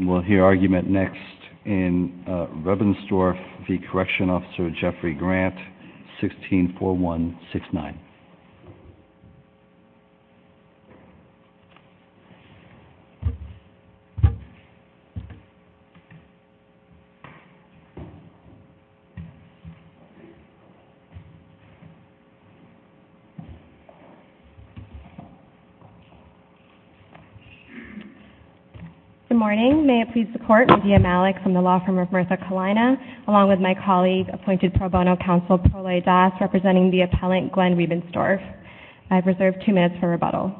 We'll hear argument next in Rebensdorf v. Correction Officer Jeffrey Grant, 164169. Good morning, may it please the court, I'm Lydia Malik from the law firm of Martha Kalina along with my colleague, appointed pro bono counsel, Pro Lay Das, representing the appellant Glenn Rebensdorf. I've reserved two minutes for rebuttal.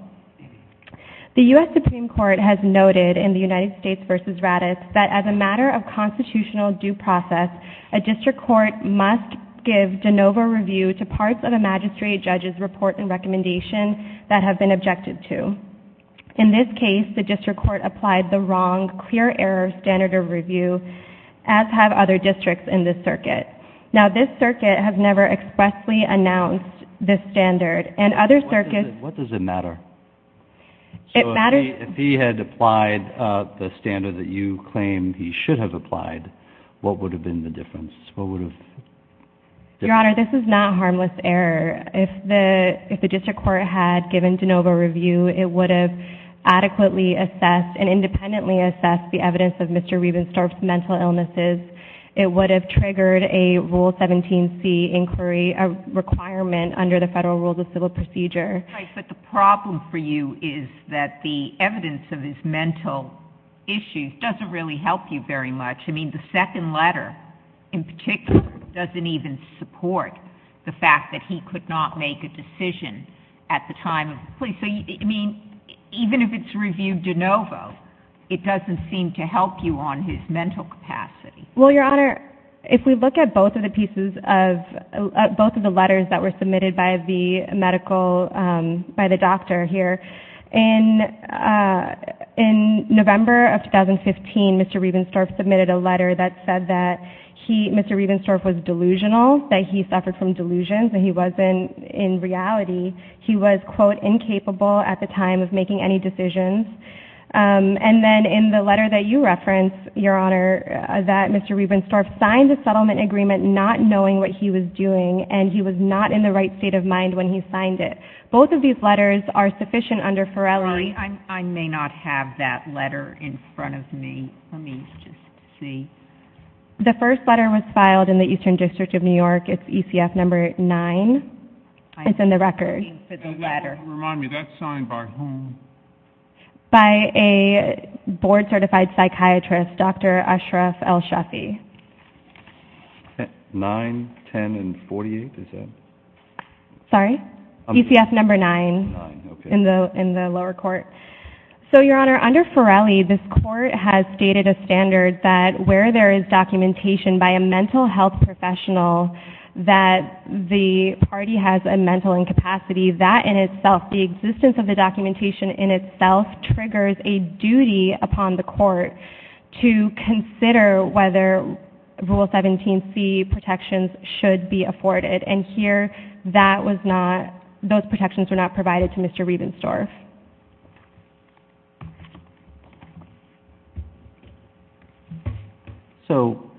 The U.S. Supreme Court has noted in the United States v. Raddatz that as a matter of constitutional due process, a district court must give de novo review to parts of a magistrate judge's report and recommendation that have been objected to. In this case, the district court applied the wrong clear error standard of review, as have other districts in this circuit. Now this circuit has never expressly announced this standard. And other circuits What does it matter? So if he had applied the standard that you claim he should have applied, what would have been the difference? Your Honor, this is not harmless error. If the district court had given de novo review, it would have adequately assessed and independently assessed the evidence of Mr. Rebensdorf's mental illnesses. It would have triggered a Rule 17c inquiry, a requirement under the Federal Rules of Civil Procedure. But the problem for you is that the evidence of his mental issues doesn't really help you very much. I mean, the second letter in particular doesn't even support the fact that he could not make a decision at the time of his plea. So, I mean, even if it's reviewed de novo, it doesn't seem to help you on his mental capacity. Well, Your Honor, if we look at both of the pieces of, both of the letters that were submitted by the medical, by the doctor here, in November of 2015, Mr. Rebensdorf submitted a letter that said that he, Mr. Rebensdorf was delusional, that he suffered from delusions, that he wasn't, in reality, he was, quote, incapable at the time of making any decisions. And then in the letter that you reference, Your Honor, that Mr. Rebensdorf signed a settlement agreement not knowing what he was doing, and he was not in the right state of mind when he signed it. Both of these letters are sufficient under Ferelli. I may not have that letter in front of me. Let me just see. The first letter was filed in the Eastern District of New York. It's ECF number nine. It's in the record. I'm looking for the letter. Remind me, that's signed by whom? By a board-certified psychiatrist, Dr. Ashraf El-Shafi. Nine, ten, and forty-eight, is that? Sorry? ECF number nine in the lower court. So, Your Honor, under Ferelli, this court has stated a standard that where there is documentation by a mental health professional that the party has a mental incapacity, that in itself, the existence of the documentation in itself triggers a duty upon the court to consider whether Rule 17c protections should be afforded. And here, that was not, those protections were not provided to Mr. Rebensdorf. So,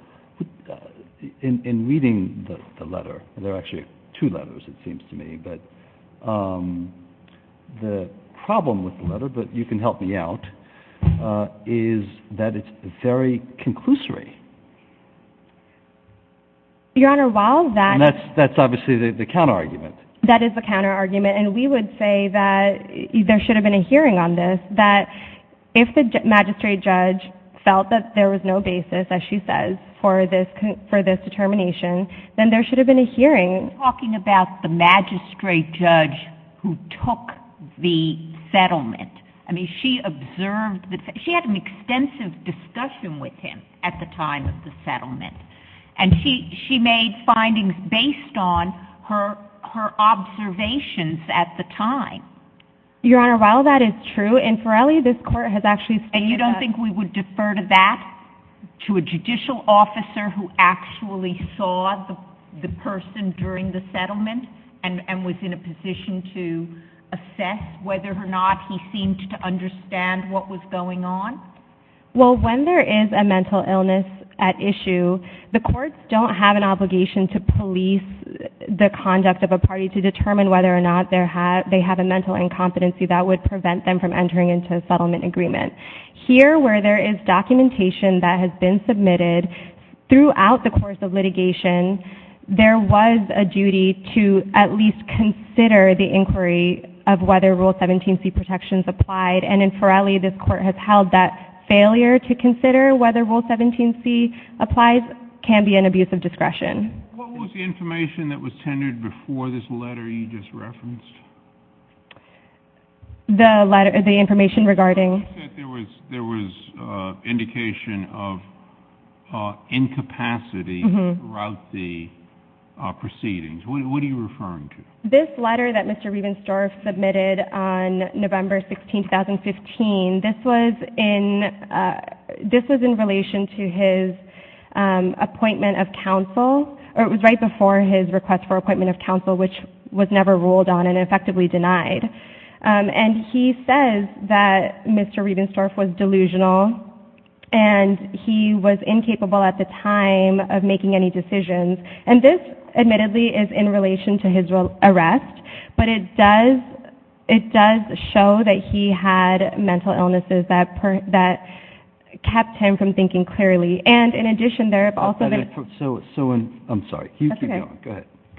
in reading the letter, there are actually two letters, it seems to me, but the problem with the letter, but you can help me out, is that it's very conclusory. Your Honor, while that— And that's obviously the counter-argument. That is the counter-argument, and we would say that there should have been a hearing on this, that if the magistrate judge felt that there was no basis, as she says, for this determination, then there should have been a hearing. Talking about the magistrate judge who took the settlement, I mean, she observed, she had an extensive discussion with him at the time of the settlement, and she made findings based on her observations at the time. Your Honor, while that is true, in Forelli, this court has actually stated that— And you don't think we would defer to that, to a judicial officer who actually saw the person during the settlement and was in a position to assess whether or not he seemed to understand what was going on? Well, when there is a mental illness at issue, the courts don't have an obligation to police the conduct of a party to determine whether or not they have a mental incompetency that would prevent them from entering into a settlement agreement. Here, where there is documentation that has been submitted throughout the course of litigation, there was a duty to at least consider the inquiry of whether Rule 17c protections applied, and in Forelli, this court has held that failure to consider whether Rule 17c applies can be an abuse of discretion. What was the information that was tendered before this letter you just referenced? The letter, the information regarding— You said there was indication of incapacity throughout the proceedings. What are you referring to? This letter that Mr. Riebensdorf submitted on November 16, 2015, this was in relation to his appointment of counsel, or it was right before his request for appointment of counsel, which was never ruled on and effectively denied. And he says that Mr. Riebensdorf was delusional and he was incapable at the time of making any decisions. And this, admittedly, is in relation to his arrest, but it does show that he had mental illnesses that kept him from thinking clearly. And in addition, there have also been— So, I'm sorry, you keep going,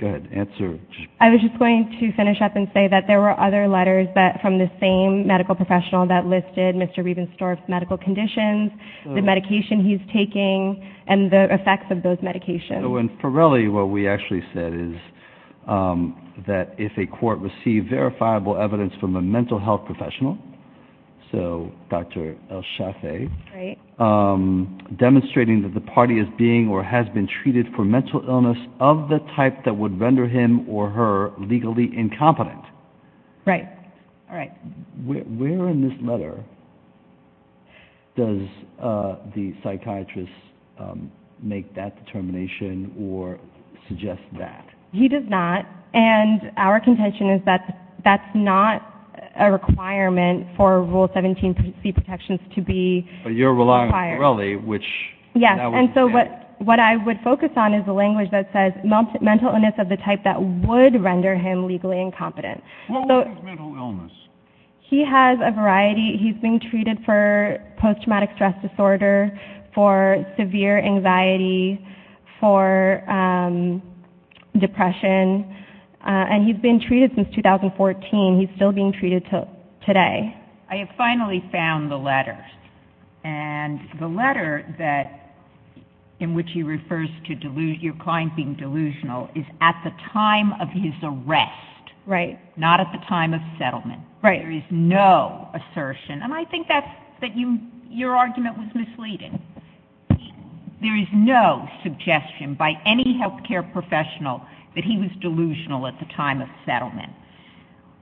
go ahead, answer. I was just going to finish up and say that there were other letters from the same medical professional that listed Mr. Riebensdorf's medical conditions, the medication he's taking, and the effects of those medications. In Ferelli, what we actually said is that if a court received verifiable evidence from a mental health professional, so Dr. El-Shafei, demonstrating that the party is being or has been treated for mental illness of the type that would render him or her legally incompetent. Right, all right. Where in this letter does the psychiatrist make that determination or suggest that? He does not. And our contention is that that's not a requirement for Rule 17 C protections to be— But you're relying on Ferelli, which— Yes, and so what I would focus on is the language that says mental illness of the type that would render him legally incompetent. What was his mental illness? He has a variety. He's been treated for post-traumatic stress disorder, for severe anxiety, for depression, and he's been treated since 2014. He's still being treated today. I have finally found the letter, and the letter in which he refers to your client being delusional is at the time of his arrest. Right. Not at the time of settlement. Right. There is no assertion, and I think that your argument was misleading. There is no suggestion by any health care professional that he was delusional at the time of settlement.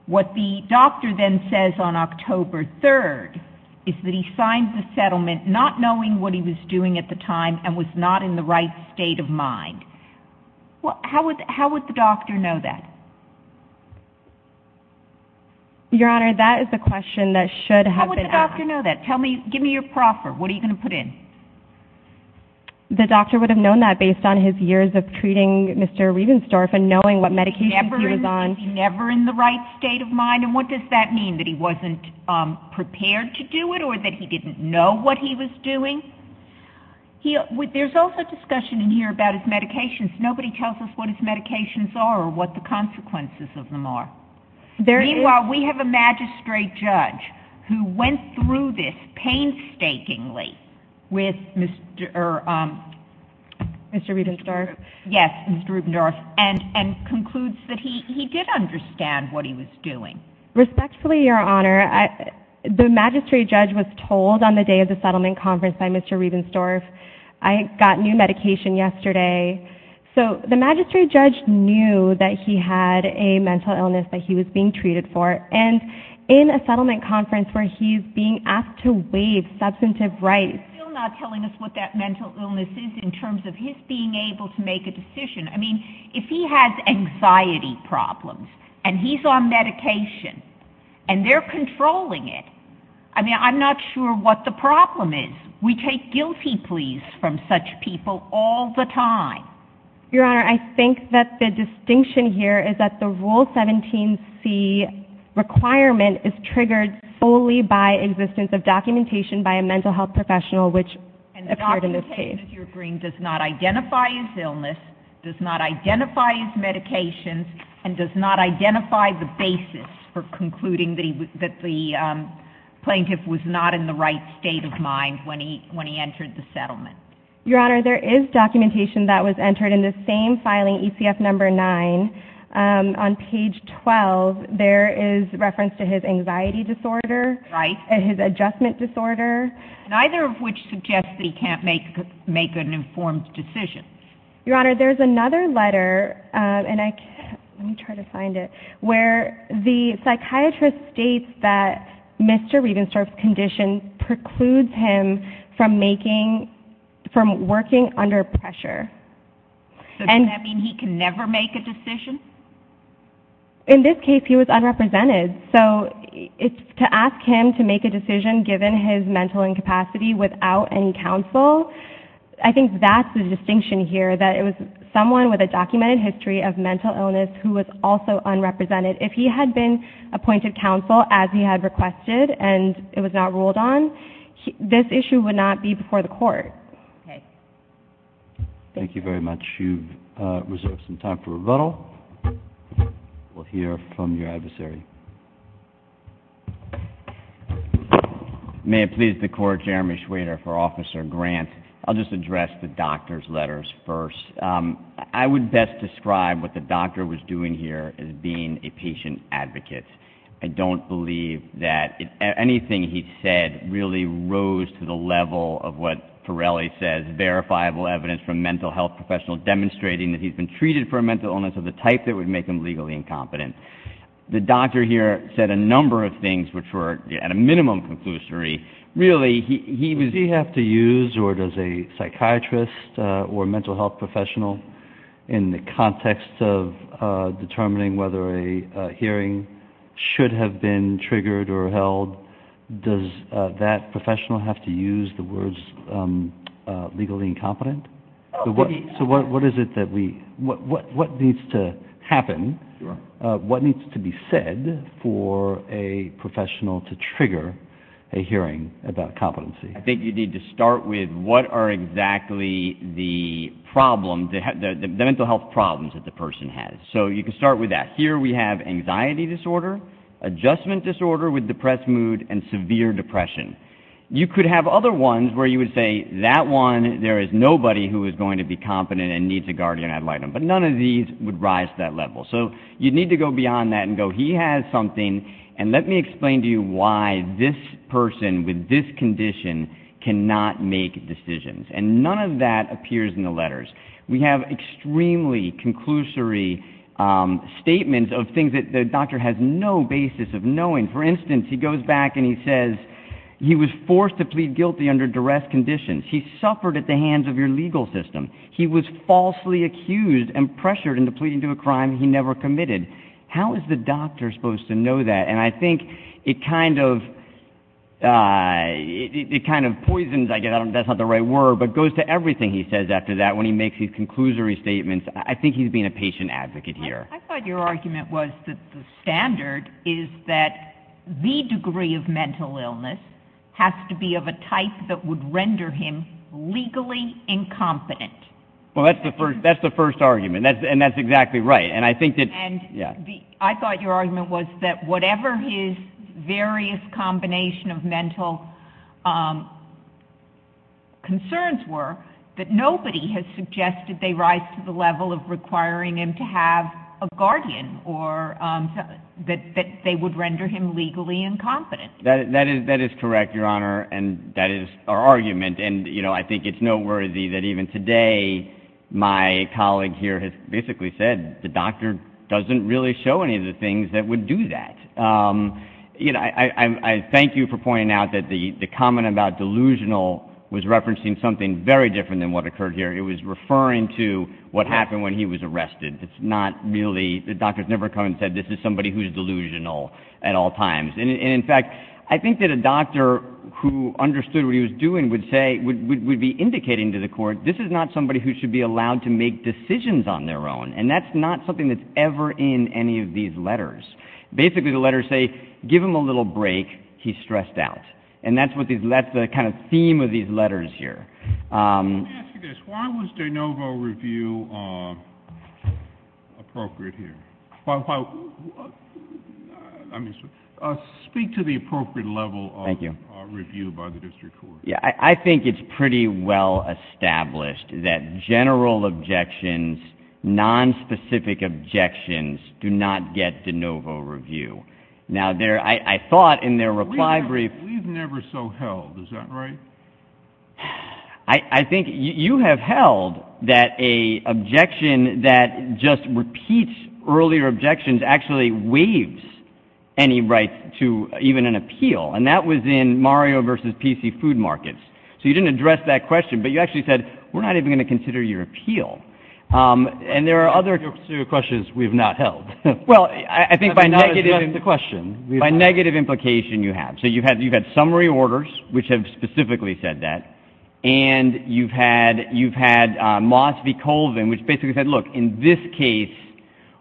What the doctor then says on October 3rd is that he signed the settlement not knowing what he was doing at the time and was not in the right state of mind. Well, how would the doctor know that? Your Honor, that is the question that should have been asked. How would the doctor know that? Tell me, give me your proffer. What are you going to put in? The doctor would have known that based on his years of treating Mr. Riebensdorff and knowing what medications he was on. Was he never in the right state of mind, and what does that mean, that he wasn't prepared to do it or that he didn't know what he was doing? There's also discussion in here about his medications. Nobody tells us what his medications are or what the consequences of them are. Meanwhile, we have a magistrate judge who went through this painstakingly with Mr. Riebensdorff and concludes that he did understand what he was doing. Respectfully, Your Honor, the magistrate judge was told on the day of the settlement conference by Mr. Riebensdorff, I got new medication yesterday. So the magistrate judge knew that he had a mental illness that he was being treated for, and in a settlement conference where he's being asked to waive substantive rights. Still not telling us what that mental illness is in terms of his being able to make a decision. I mean, if he has anxiety problems and he's on medication and they're controlling it, I mean, I'm not sure what the problem is. We take guilty pleas from such people all the time. Your Honor, I think that the distinction here is that the Rule 17c requirement is triggered solely by existence of documentation by a mental health professional, which appeared in this case. And the documentation, if you're agreeing, does not identify his illness, does not identify his medications, and does not identify the basis for concluding that the plaintiff was not in the right state of mind when he entered the settlement. Your Honor, there is documentation that was entered in the same filing, ECF number 9. On page 12, there is reference to his anxiety disorder, his adjustment disorder. Neither of which suggests that he can't make an informed decision. Your Honor, there's another letter, and I can't, let me try to find it, where the psychiatrist states that Mr. Rievenstorp's condition precludes him from making, from working under pressure. So, does that mean he can never make a decision? In this case, he was unrepresented. So, to ask him to make a decision given his mental incapacity without any counsel, I think that's the distinction here, that it was someone with a documented history of mental incapacity. So, if he did not have any counsel, as he had requested, and it was not ruled on, this issue would not be before the court. Okay. Thank you very much. You've reserved some time for rebuttal. We'll hear from your adversary. May it please the Court, Jeremy Schweder for Officer Grant. I'll just address the doctor's letters first. I would best describe what the doctor was doing here as being a patient advocate. I don't believe that anything he said really rose to the level of what Pirelli says, verifiable evidence from mental health professionals demonstrating that he's been treated for a mental illness of the type that would make him legally incompetent. The doctor here said a number of things which were, at a minimum, conclusionary. Really, he was... Do you have to use, or does a psychiatrist or mental health professional, in the context of determining whether a hearing should have been triggered or held, does that professional have to use the words legally incompetent? So, what needs to happen, what needs to be said for a professional to trigger a hearing? I think you need to start with what are exactly the mental health problems that the person has. So, you can start with that. Here we have anxiety disorder, adjustment disorder with depressed mood, and severe depression. You could have other ones where you would say, that one, there is nobody who is going to be competent and needs a guardian ad litem. But none of these would rise to that level. So, you need to go beyond that and go, he has something. And let me explain to you why this person with this condition cannot make decisions. And none of that appears in the letters. We have extremely conclusory statements of things that the doctor has no basis of knowing. For instance, he goes back and he says, he was forced to plead guilty under duress conditions. He suffered at the hands of your legal system. He was falsely accused and pressured into pleading to a crime he never committed. How is the doctor supposed to know that? And I think it kind of poisons, I guess that's not the right word, but goes to everything he says after that when he makes these conclusory statements. I think he's being a patient advocate here. I thought your argument was that the standard is that the degree of mental illness has to be of a type that would render him legally incompetent. Well, that's the first argument. And that's exactly right. And I thought your argument was that whatever his various combination of mental concerns were, that nobody has suggested they rise to the level of requiring him to have a guardian or that they would render him legally incompetent. That is correct, Your Honor. And that is our argument. And I think it's noteworthy that even today, my colleague here has basically said the doctor doesn't really show any of the things that would do that. I thank you for pointing out that the comment about delusional was referencing something very different than what occurred here. It was referring to what happened when he was arrested. It's not really, the doctor's never come and said this is somebody who's delusional at all times. And in fact, I think that a doctor who understood what he was doing would say, would be indicating to the court, this is not somebody who should be allowed to make decisions on their own. And that's not something that's ever in any of these letters. Basically, the letters say, give him a little break. He's stressed out. And that's what these, that's the kind of theme of these letters here. Let me ask you this. Why was De Novo review appropriate here? Speak to the appropriate level of review by the district court. I think it's pretty well established that general objections, non-specific objections do not get De Novo review. Now there, I thought in their reply brief. We've never so held. Is that right? I think you have held that a objection that just repeats earlier objections actually waives any right to even an appeal. And that was in Mario versus PC food markets. So you didn't address that question, but you actually said, we're not even going to consider your appeal. And there are other questions we've not held. Well, I think by negative question, by negative implication you have. So you've had, you've had summary orders, which have specifically said that. And you've had, you've had a Moss v. Colvin, which basically said, look, in this case,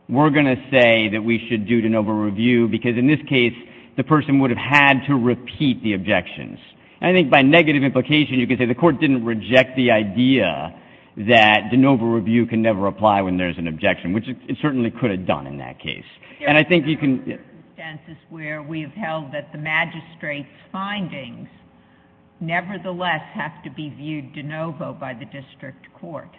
we're going to say that we should do De Novo review because in this case, the person would have had to repeat the objections. I think by negative implication, you could say the court didn't reject the idea that De Novo review can never apply when there's an objection, which it certainly could have done in that case. And I think you can. There are circumstances where we've held that the magistrate's findings nevertheless have to be viewed De Novo by the district court.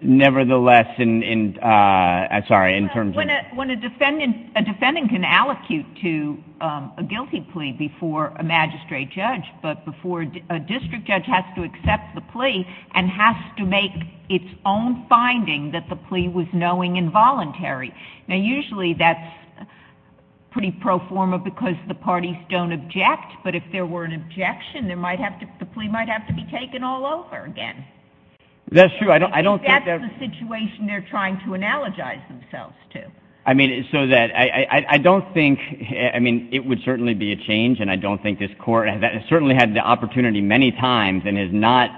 Nevertheless, in, sorry, in terms of. When a defendant, a defendant can allocute to a guilty plea before a magistrate judge, but before a district judge has to accept the plea and has to make its own finding that the plea was knowing involuntary. Now, usually that's pretty pro forma because the parties don't object. But if there were an objection, there might have to, the plea might have to be taken all over again. That's true. I don't think that's the situation they're trying to analogize themselves to. I mean, so that, I don't think, I mean, it would certainly be a change. And I don't think this court has certainly had the opportunity many times and has not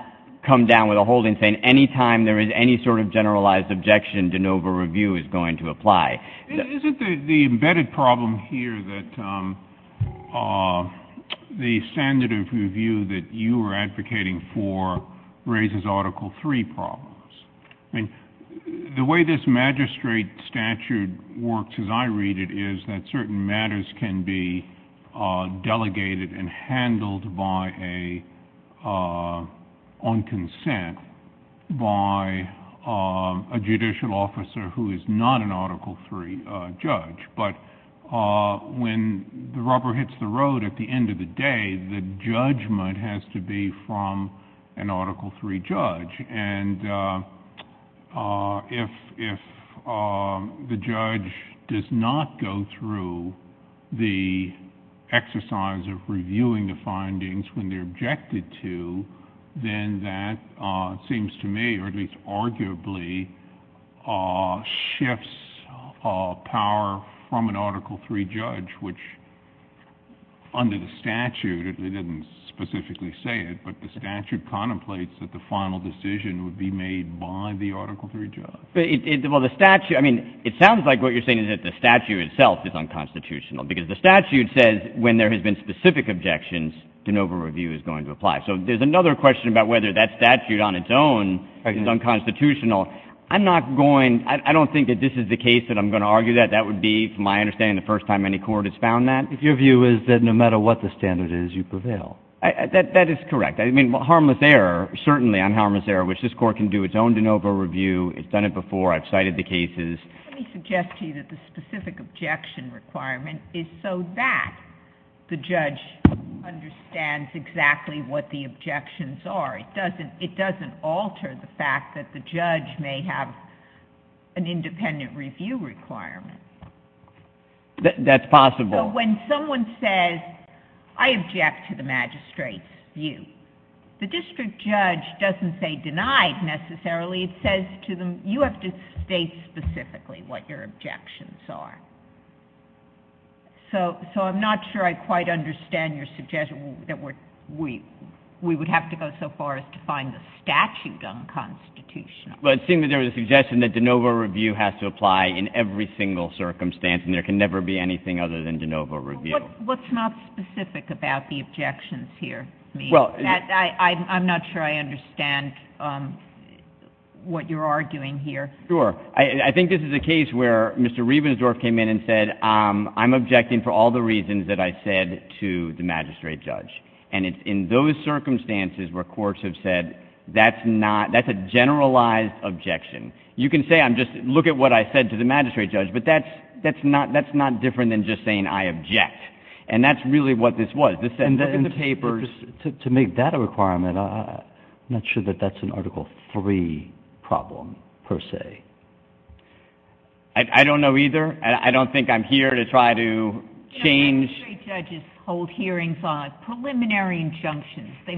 come down with a holding saying any time there is any sort of generalized objection, De Novo review is going to apply. Isn't the embedded problem here that the standard of review that you were advocating for raises Article III problems? I mean, the way this magistrate statute works as I read it is that certain matters can be delegated and handled by a, on consent by a judicial officer who is not an Article III judge, but when the rubber hits the road at the end of the day, the judgment has to be from an Article III judge. And if the judge does not go through the exercise of reviewing the findings when they're objected to, then that seems to me, or at least arguably shifts power from an Article III judge, which under the statute, they didn't specifically say it, but the statute contemplates that the final decision would be made by the Article III judge. But it, well, the statute, I mean, it sounds like what you're saying is that the statute itself is unconstitutional because the statute says when there has been specific objections, De Novo review is going to apply. So there's another question about whether that statute on its own is unconstitutional. I'm not going, I don't think that this is the case that I'm going to argue that that would be, from my understanding, the first time any court has found that. Your view is that no matter what the standard is, you prevail. That is correct. Harmless error, certainly unharmless error, which this court can do its own De Novo review. It's done it before. I've cited the cases. Let me suggest to you that the specific objection requirement is so that the judge understands exactly what the objections are. It doesn't alter the fact that the judge may have an independent review requirement. That's possible. When someone says, I object to the magistrate's view, the district judge doesn't say denied necessarily. It says to them, you have to state specifically what your objections are. So I'm not sure I quite understand your suggestion that we would have to go so far as to find the statute unconstitutional. Well, it seems that there was a suggestion that De Novo review has to apply in every circumstance and there can never be anything other than De Novo review. What's not specific about the objections here? I'm not sure I understand what you're arguing here. Sure. I think this is a case where Mr. Riebensdorf came in and said, I'm objecting for all the reasons that I said to the magistrate judge. And it's in those circumstances where courts have said, that's a generalized objection. You can say, I'm just, look at what I said to the magistrate judge, but that's, that's not, that's not different than just saying I object. And that's really what this was. To make that a requirement, I'm not sure that that's an article three problem per se. I don't know either. I don't think I'm here to try to change. Magistrate judges hold hearings on preliminary injunctions. They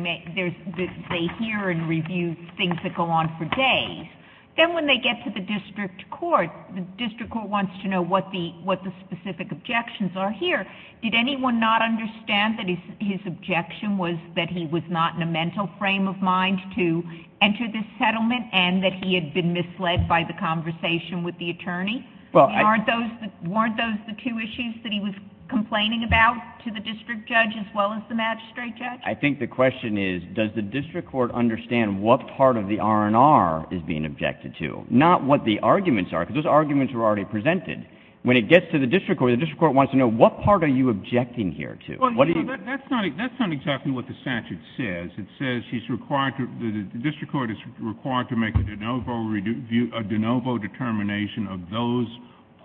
hear and review things that go on for days. Then when they get to the district court, the district court wants to know what the, what the specific objections are here. Did anyone not understand that his objection was that he was not in a mental frame of mind to enter this settlement and that he had been misled by the conversation with the attorney? Well, aren't those, weren't those the two issues that he was complaining about to the district judge as well as the magistrate judge? I think the question is, does the district court understand what part of the R&R is being objected to? Not what the arguments are, because those arguments were already presented. When it gets to the district court, the district court wants to know what part are you objecting here to? Well, you know, that's not, that's not exactly what the statute says. It says he's required to, the district court is required to make a de novo review, a de novo determination of those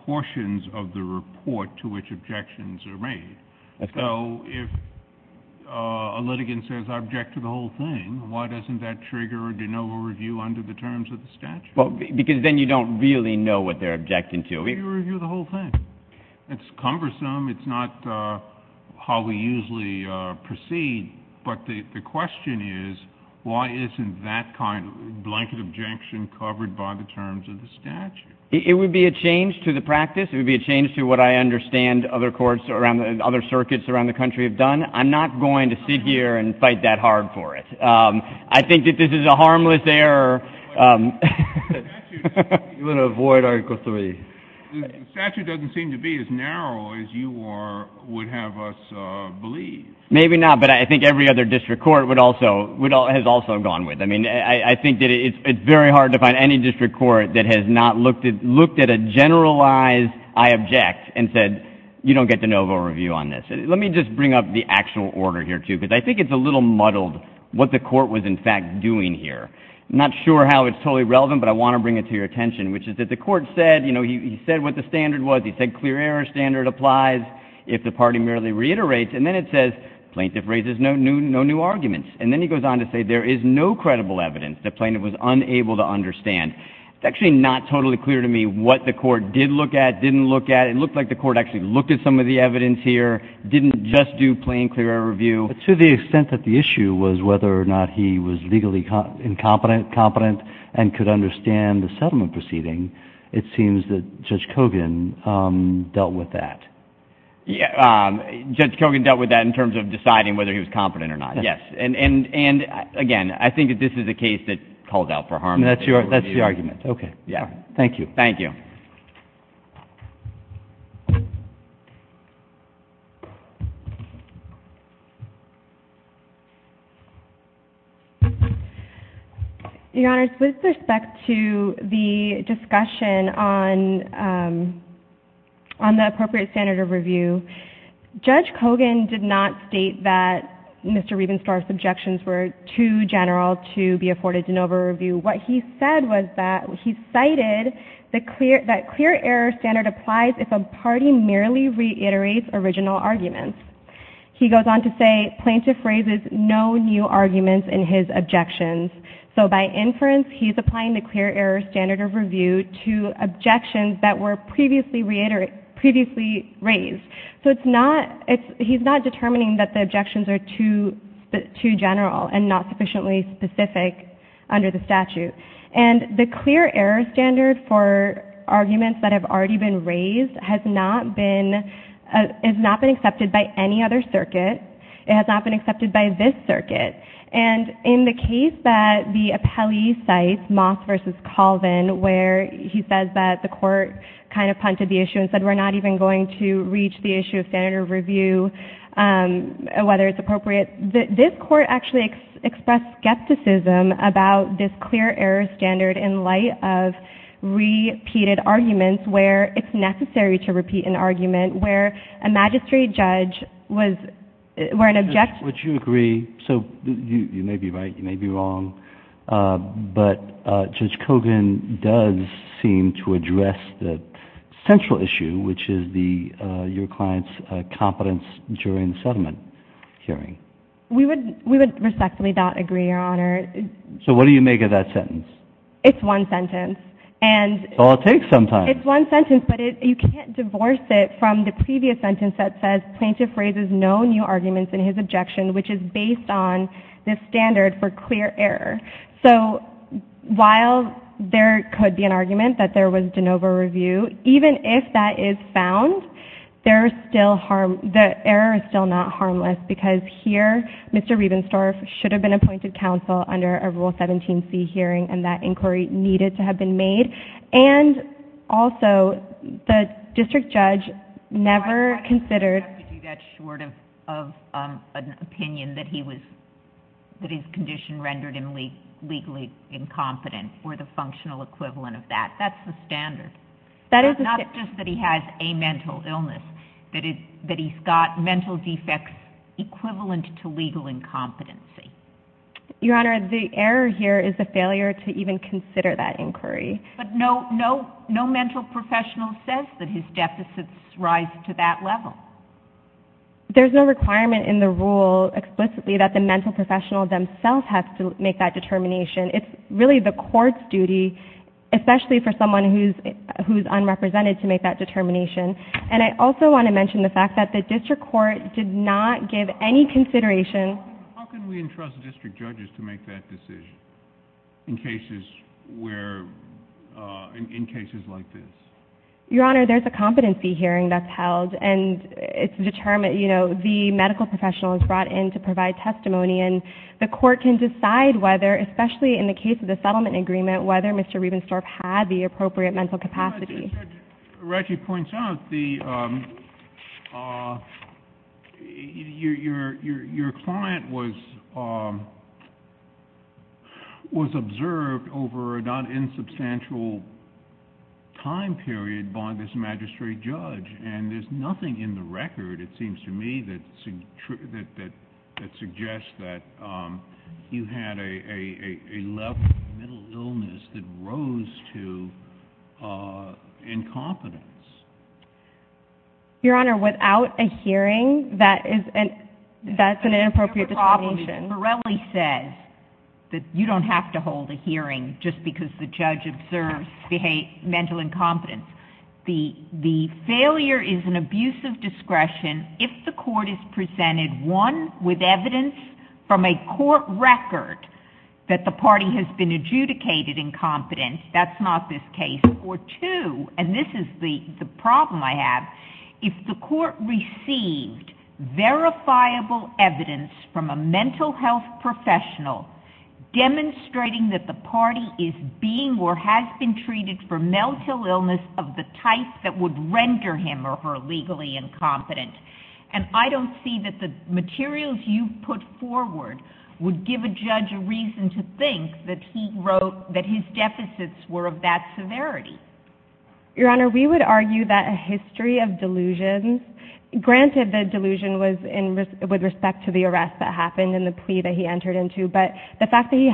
portions of the report to which objections are made. So if a litigant says I object to the whole thing, why doesn't that trigger a de novo review under the terms of the statute? Because then you don't really know what they're objecting to. You review the whole thing. It's cumbersome. It's not how we usually proceed. But the question is, why isn't that kind of blanket objection covered by the terms of the statute? It would be a change to the practice. It would be a change to what I understand other courts around, other circuits around the country have done. I'm not going to sit here and fight that hard for it. I think that this is a harmless error. The statute doesn't seem to be as narrow as you would have us believe. Maybe not, but I think every other district court would also, has also gone with it. I mean, I think that it's very hard to find any district court that has not looked at a generalized I object and said, you don't get de novo review on this. Let me just bring up the actual order here too, because I think it's a little muddled what the court was in fact doing here. I'm not sure how it's totally relevant, but I want to bring it to your attention, which is that the court said, you know, he said what the standard was. He said clear error standard applies if the party merely reiterates. And then it says plaintiff raises no new arguments. And then he goes on to say there is no credible evidence the plaintiff was unable to understand. It's actually not totally clear to me what the court did look at, didn't look at. It looked like the court actually looked at some of the evidence here, didn't just do plain clear error review. To the extent that the issue was whether or not he was legally incompetent and could understand the settlement proceeding, it seems that Judge Kogan dealt with that. Judge Kogan dealt with that in terms of deciding whether he was competent or not. Yes. And again, I think that this is a case that called out for harm. And that's your, that's the argument. Okay. Yeah. Thank you. Your Honor, with respect to the discussion on the appropriate standard of review, Judge Kogan did not state that Mr. Riebenstorff's objections were too general to be afforded de novo review. What he said was that he cited the clear, that clear error standard applies if a party merely reiterates original arguments. He goes on to say plaintiff raises no new arguments in his objections. So by inference, he's applying the clear error standard of review to objections that were previously raised. So it's not, he's not determining that the objections are too general and not sufficiently specific under the statute. And the clear error standard for arguments that have already been raised has not been, has not been accepted by any other circuit. It has not been accepted by this circuit. And in the case that the appellee cites, Moss versus Colvin, where he says that the court kind of punted the issue and said, we're not even going to reach the issue of standard of review, whether it's appropriate. This court actually expressed skepticism about this clear error standard in light of repeated arguments where it's necessary to repeat an argument where a magistrate judge was, where an objection. Would you agree? So you may be right, you may be wrong, but Judge Kogan does seem to address the central issue, which is the, your client's competence during the settlement hearing. We would, we would respectfully not agree, Your Honor. So what do you make of that sentence? It's one sentence. And it's one sentence, but it, you can't divorce it from the previous sentence that says plaintiff raises no new arguments in his objection, which is based on the standard for clear error. So while there could be an argument that there was de novo review, even if that is found, there's still harm, the error is still not harmless because here, Mr. Rebensdorf should have been appointed counsel under a Rule 17c hearing and that inquiry needed to have been made. And also the district judge never considered... legally incompetent or the functional equivalent of that. That's the standard. Not just that he has a mental illness, that it, that he's got mental defects equivalent to legal incompetency. Your Honor, the error here is a failure to even consider that inquiry. But no, no, no mental professional says that his deficits rise to that level. There's no requirement in the rule explicitly that the mental professional themselves have to make that determination. It's really the court's duty, especially for someone who's, who's unrepresented to make that determination. And I also want to mention the fact that the district court did not give any consideration. How can we entrust district judges to make that decision in cases where, in cases like this? Your Honor, there's a competency hearing that's held and it's determined, you know, the medical professional is brought in to provide testimony. And the court can decide whether, especially in the case of the settlement agreement, whether Mr. Riebenstorff had the appropriate mental capacity. Reggie points out the... your client was, was observed over a non-insubstantial time period by this magistrate judge. And there's nothing in the record, it seems to me, that that, that suggests that you had a, a, a level of mental illness that rose to incompetence. Your Honor, without a hearing, that is an, that's an inappropriate determination. Morelli says that you don't have to hold a hearing just because the judge observes behavior, mental incompetence. The, the failure is an abuse of discretion if the court is presented, one, with evidence from a court record that the party has been adjudicated incompetent. That's not this case. Or two, and this is the, the problem I have, if the court received verifiable evidence from a mental health professional demonstrating that the party is being or has been treated for mental illness of the type that would render him or her legally incompetent. And I don't see that the materials you've put forward would give a judge a reason to think that he wrote, that his deficits were of that severity. Your Honor, we would argue that a history of delusions, granted the delusion was in with respect to the arrest that happened and the plea that he entered into, but the fact the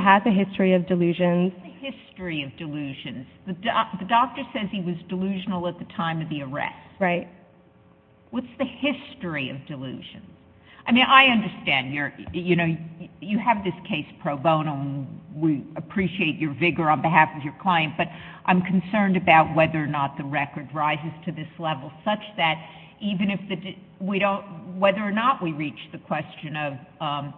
doctor says he was delusional at the time of the arrest. Right. What's the history of delusion? I mean, I understand you're, you know, you have this case pro bono and we appreciate your vigor on behalf of your client, but I'm concerned about whether or not the record rises to this level such that even if the, we don't, whether or not we reach the question of,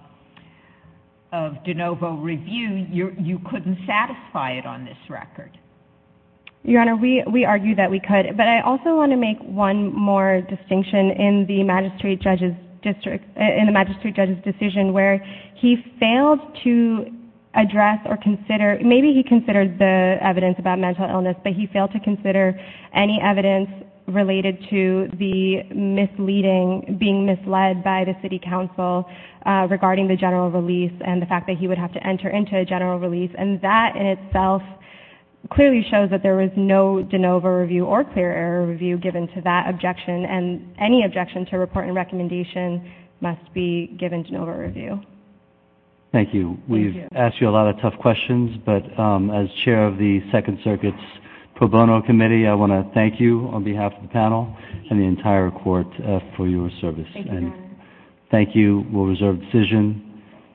of de novo review, you're, you couldn't satisfy it on this record. Your Honor, we, we argue that we could, but I also want to make one more distinction in the magistrate judge's district, in the magistrate judge's decision where he failed to address or consider, maybe he considered the evidence about mental illness, but he failed to consider any evidence related to the misleading, being misled by the city council regarding the general release and the fact that he would have to enter into a general release. And that in itself clearly shows that there was no de novo review or clear error review given to that objection and any objection to report and recommendation must be given de novo review. Thank you. We've asked you a lot of tough questions, but as chair of the Second Circuit's pro bono committee, I want to thank you on behalf of the panel and the entire court for your service and thank you. We'll reserve decision.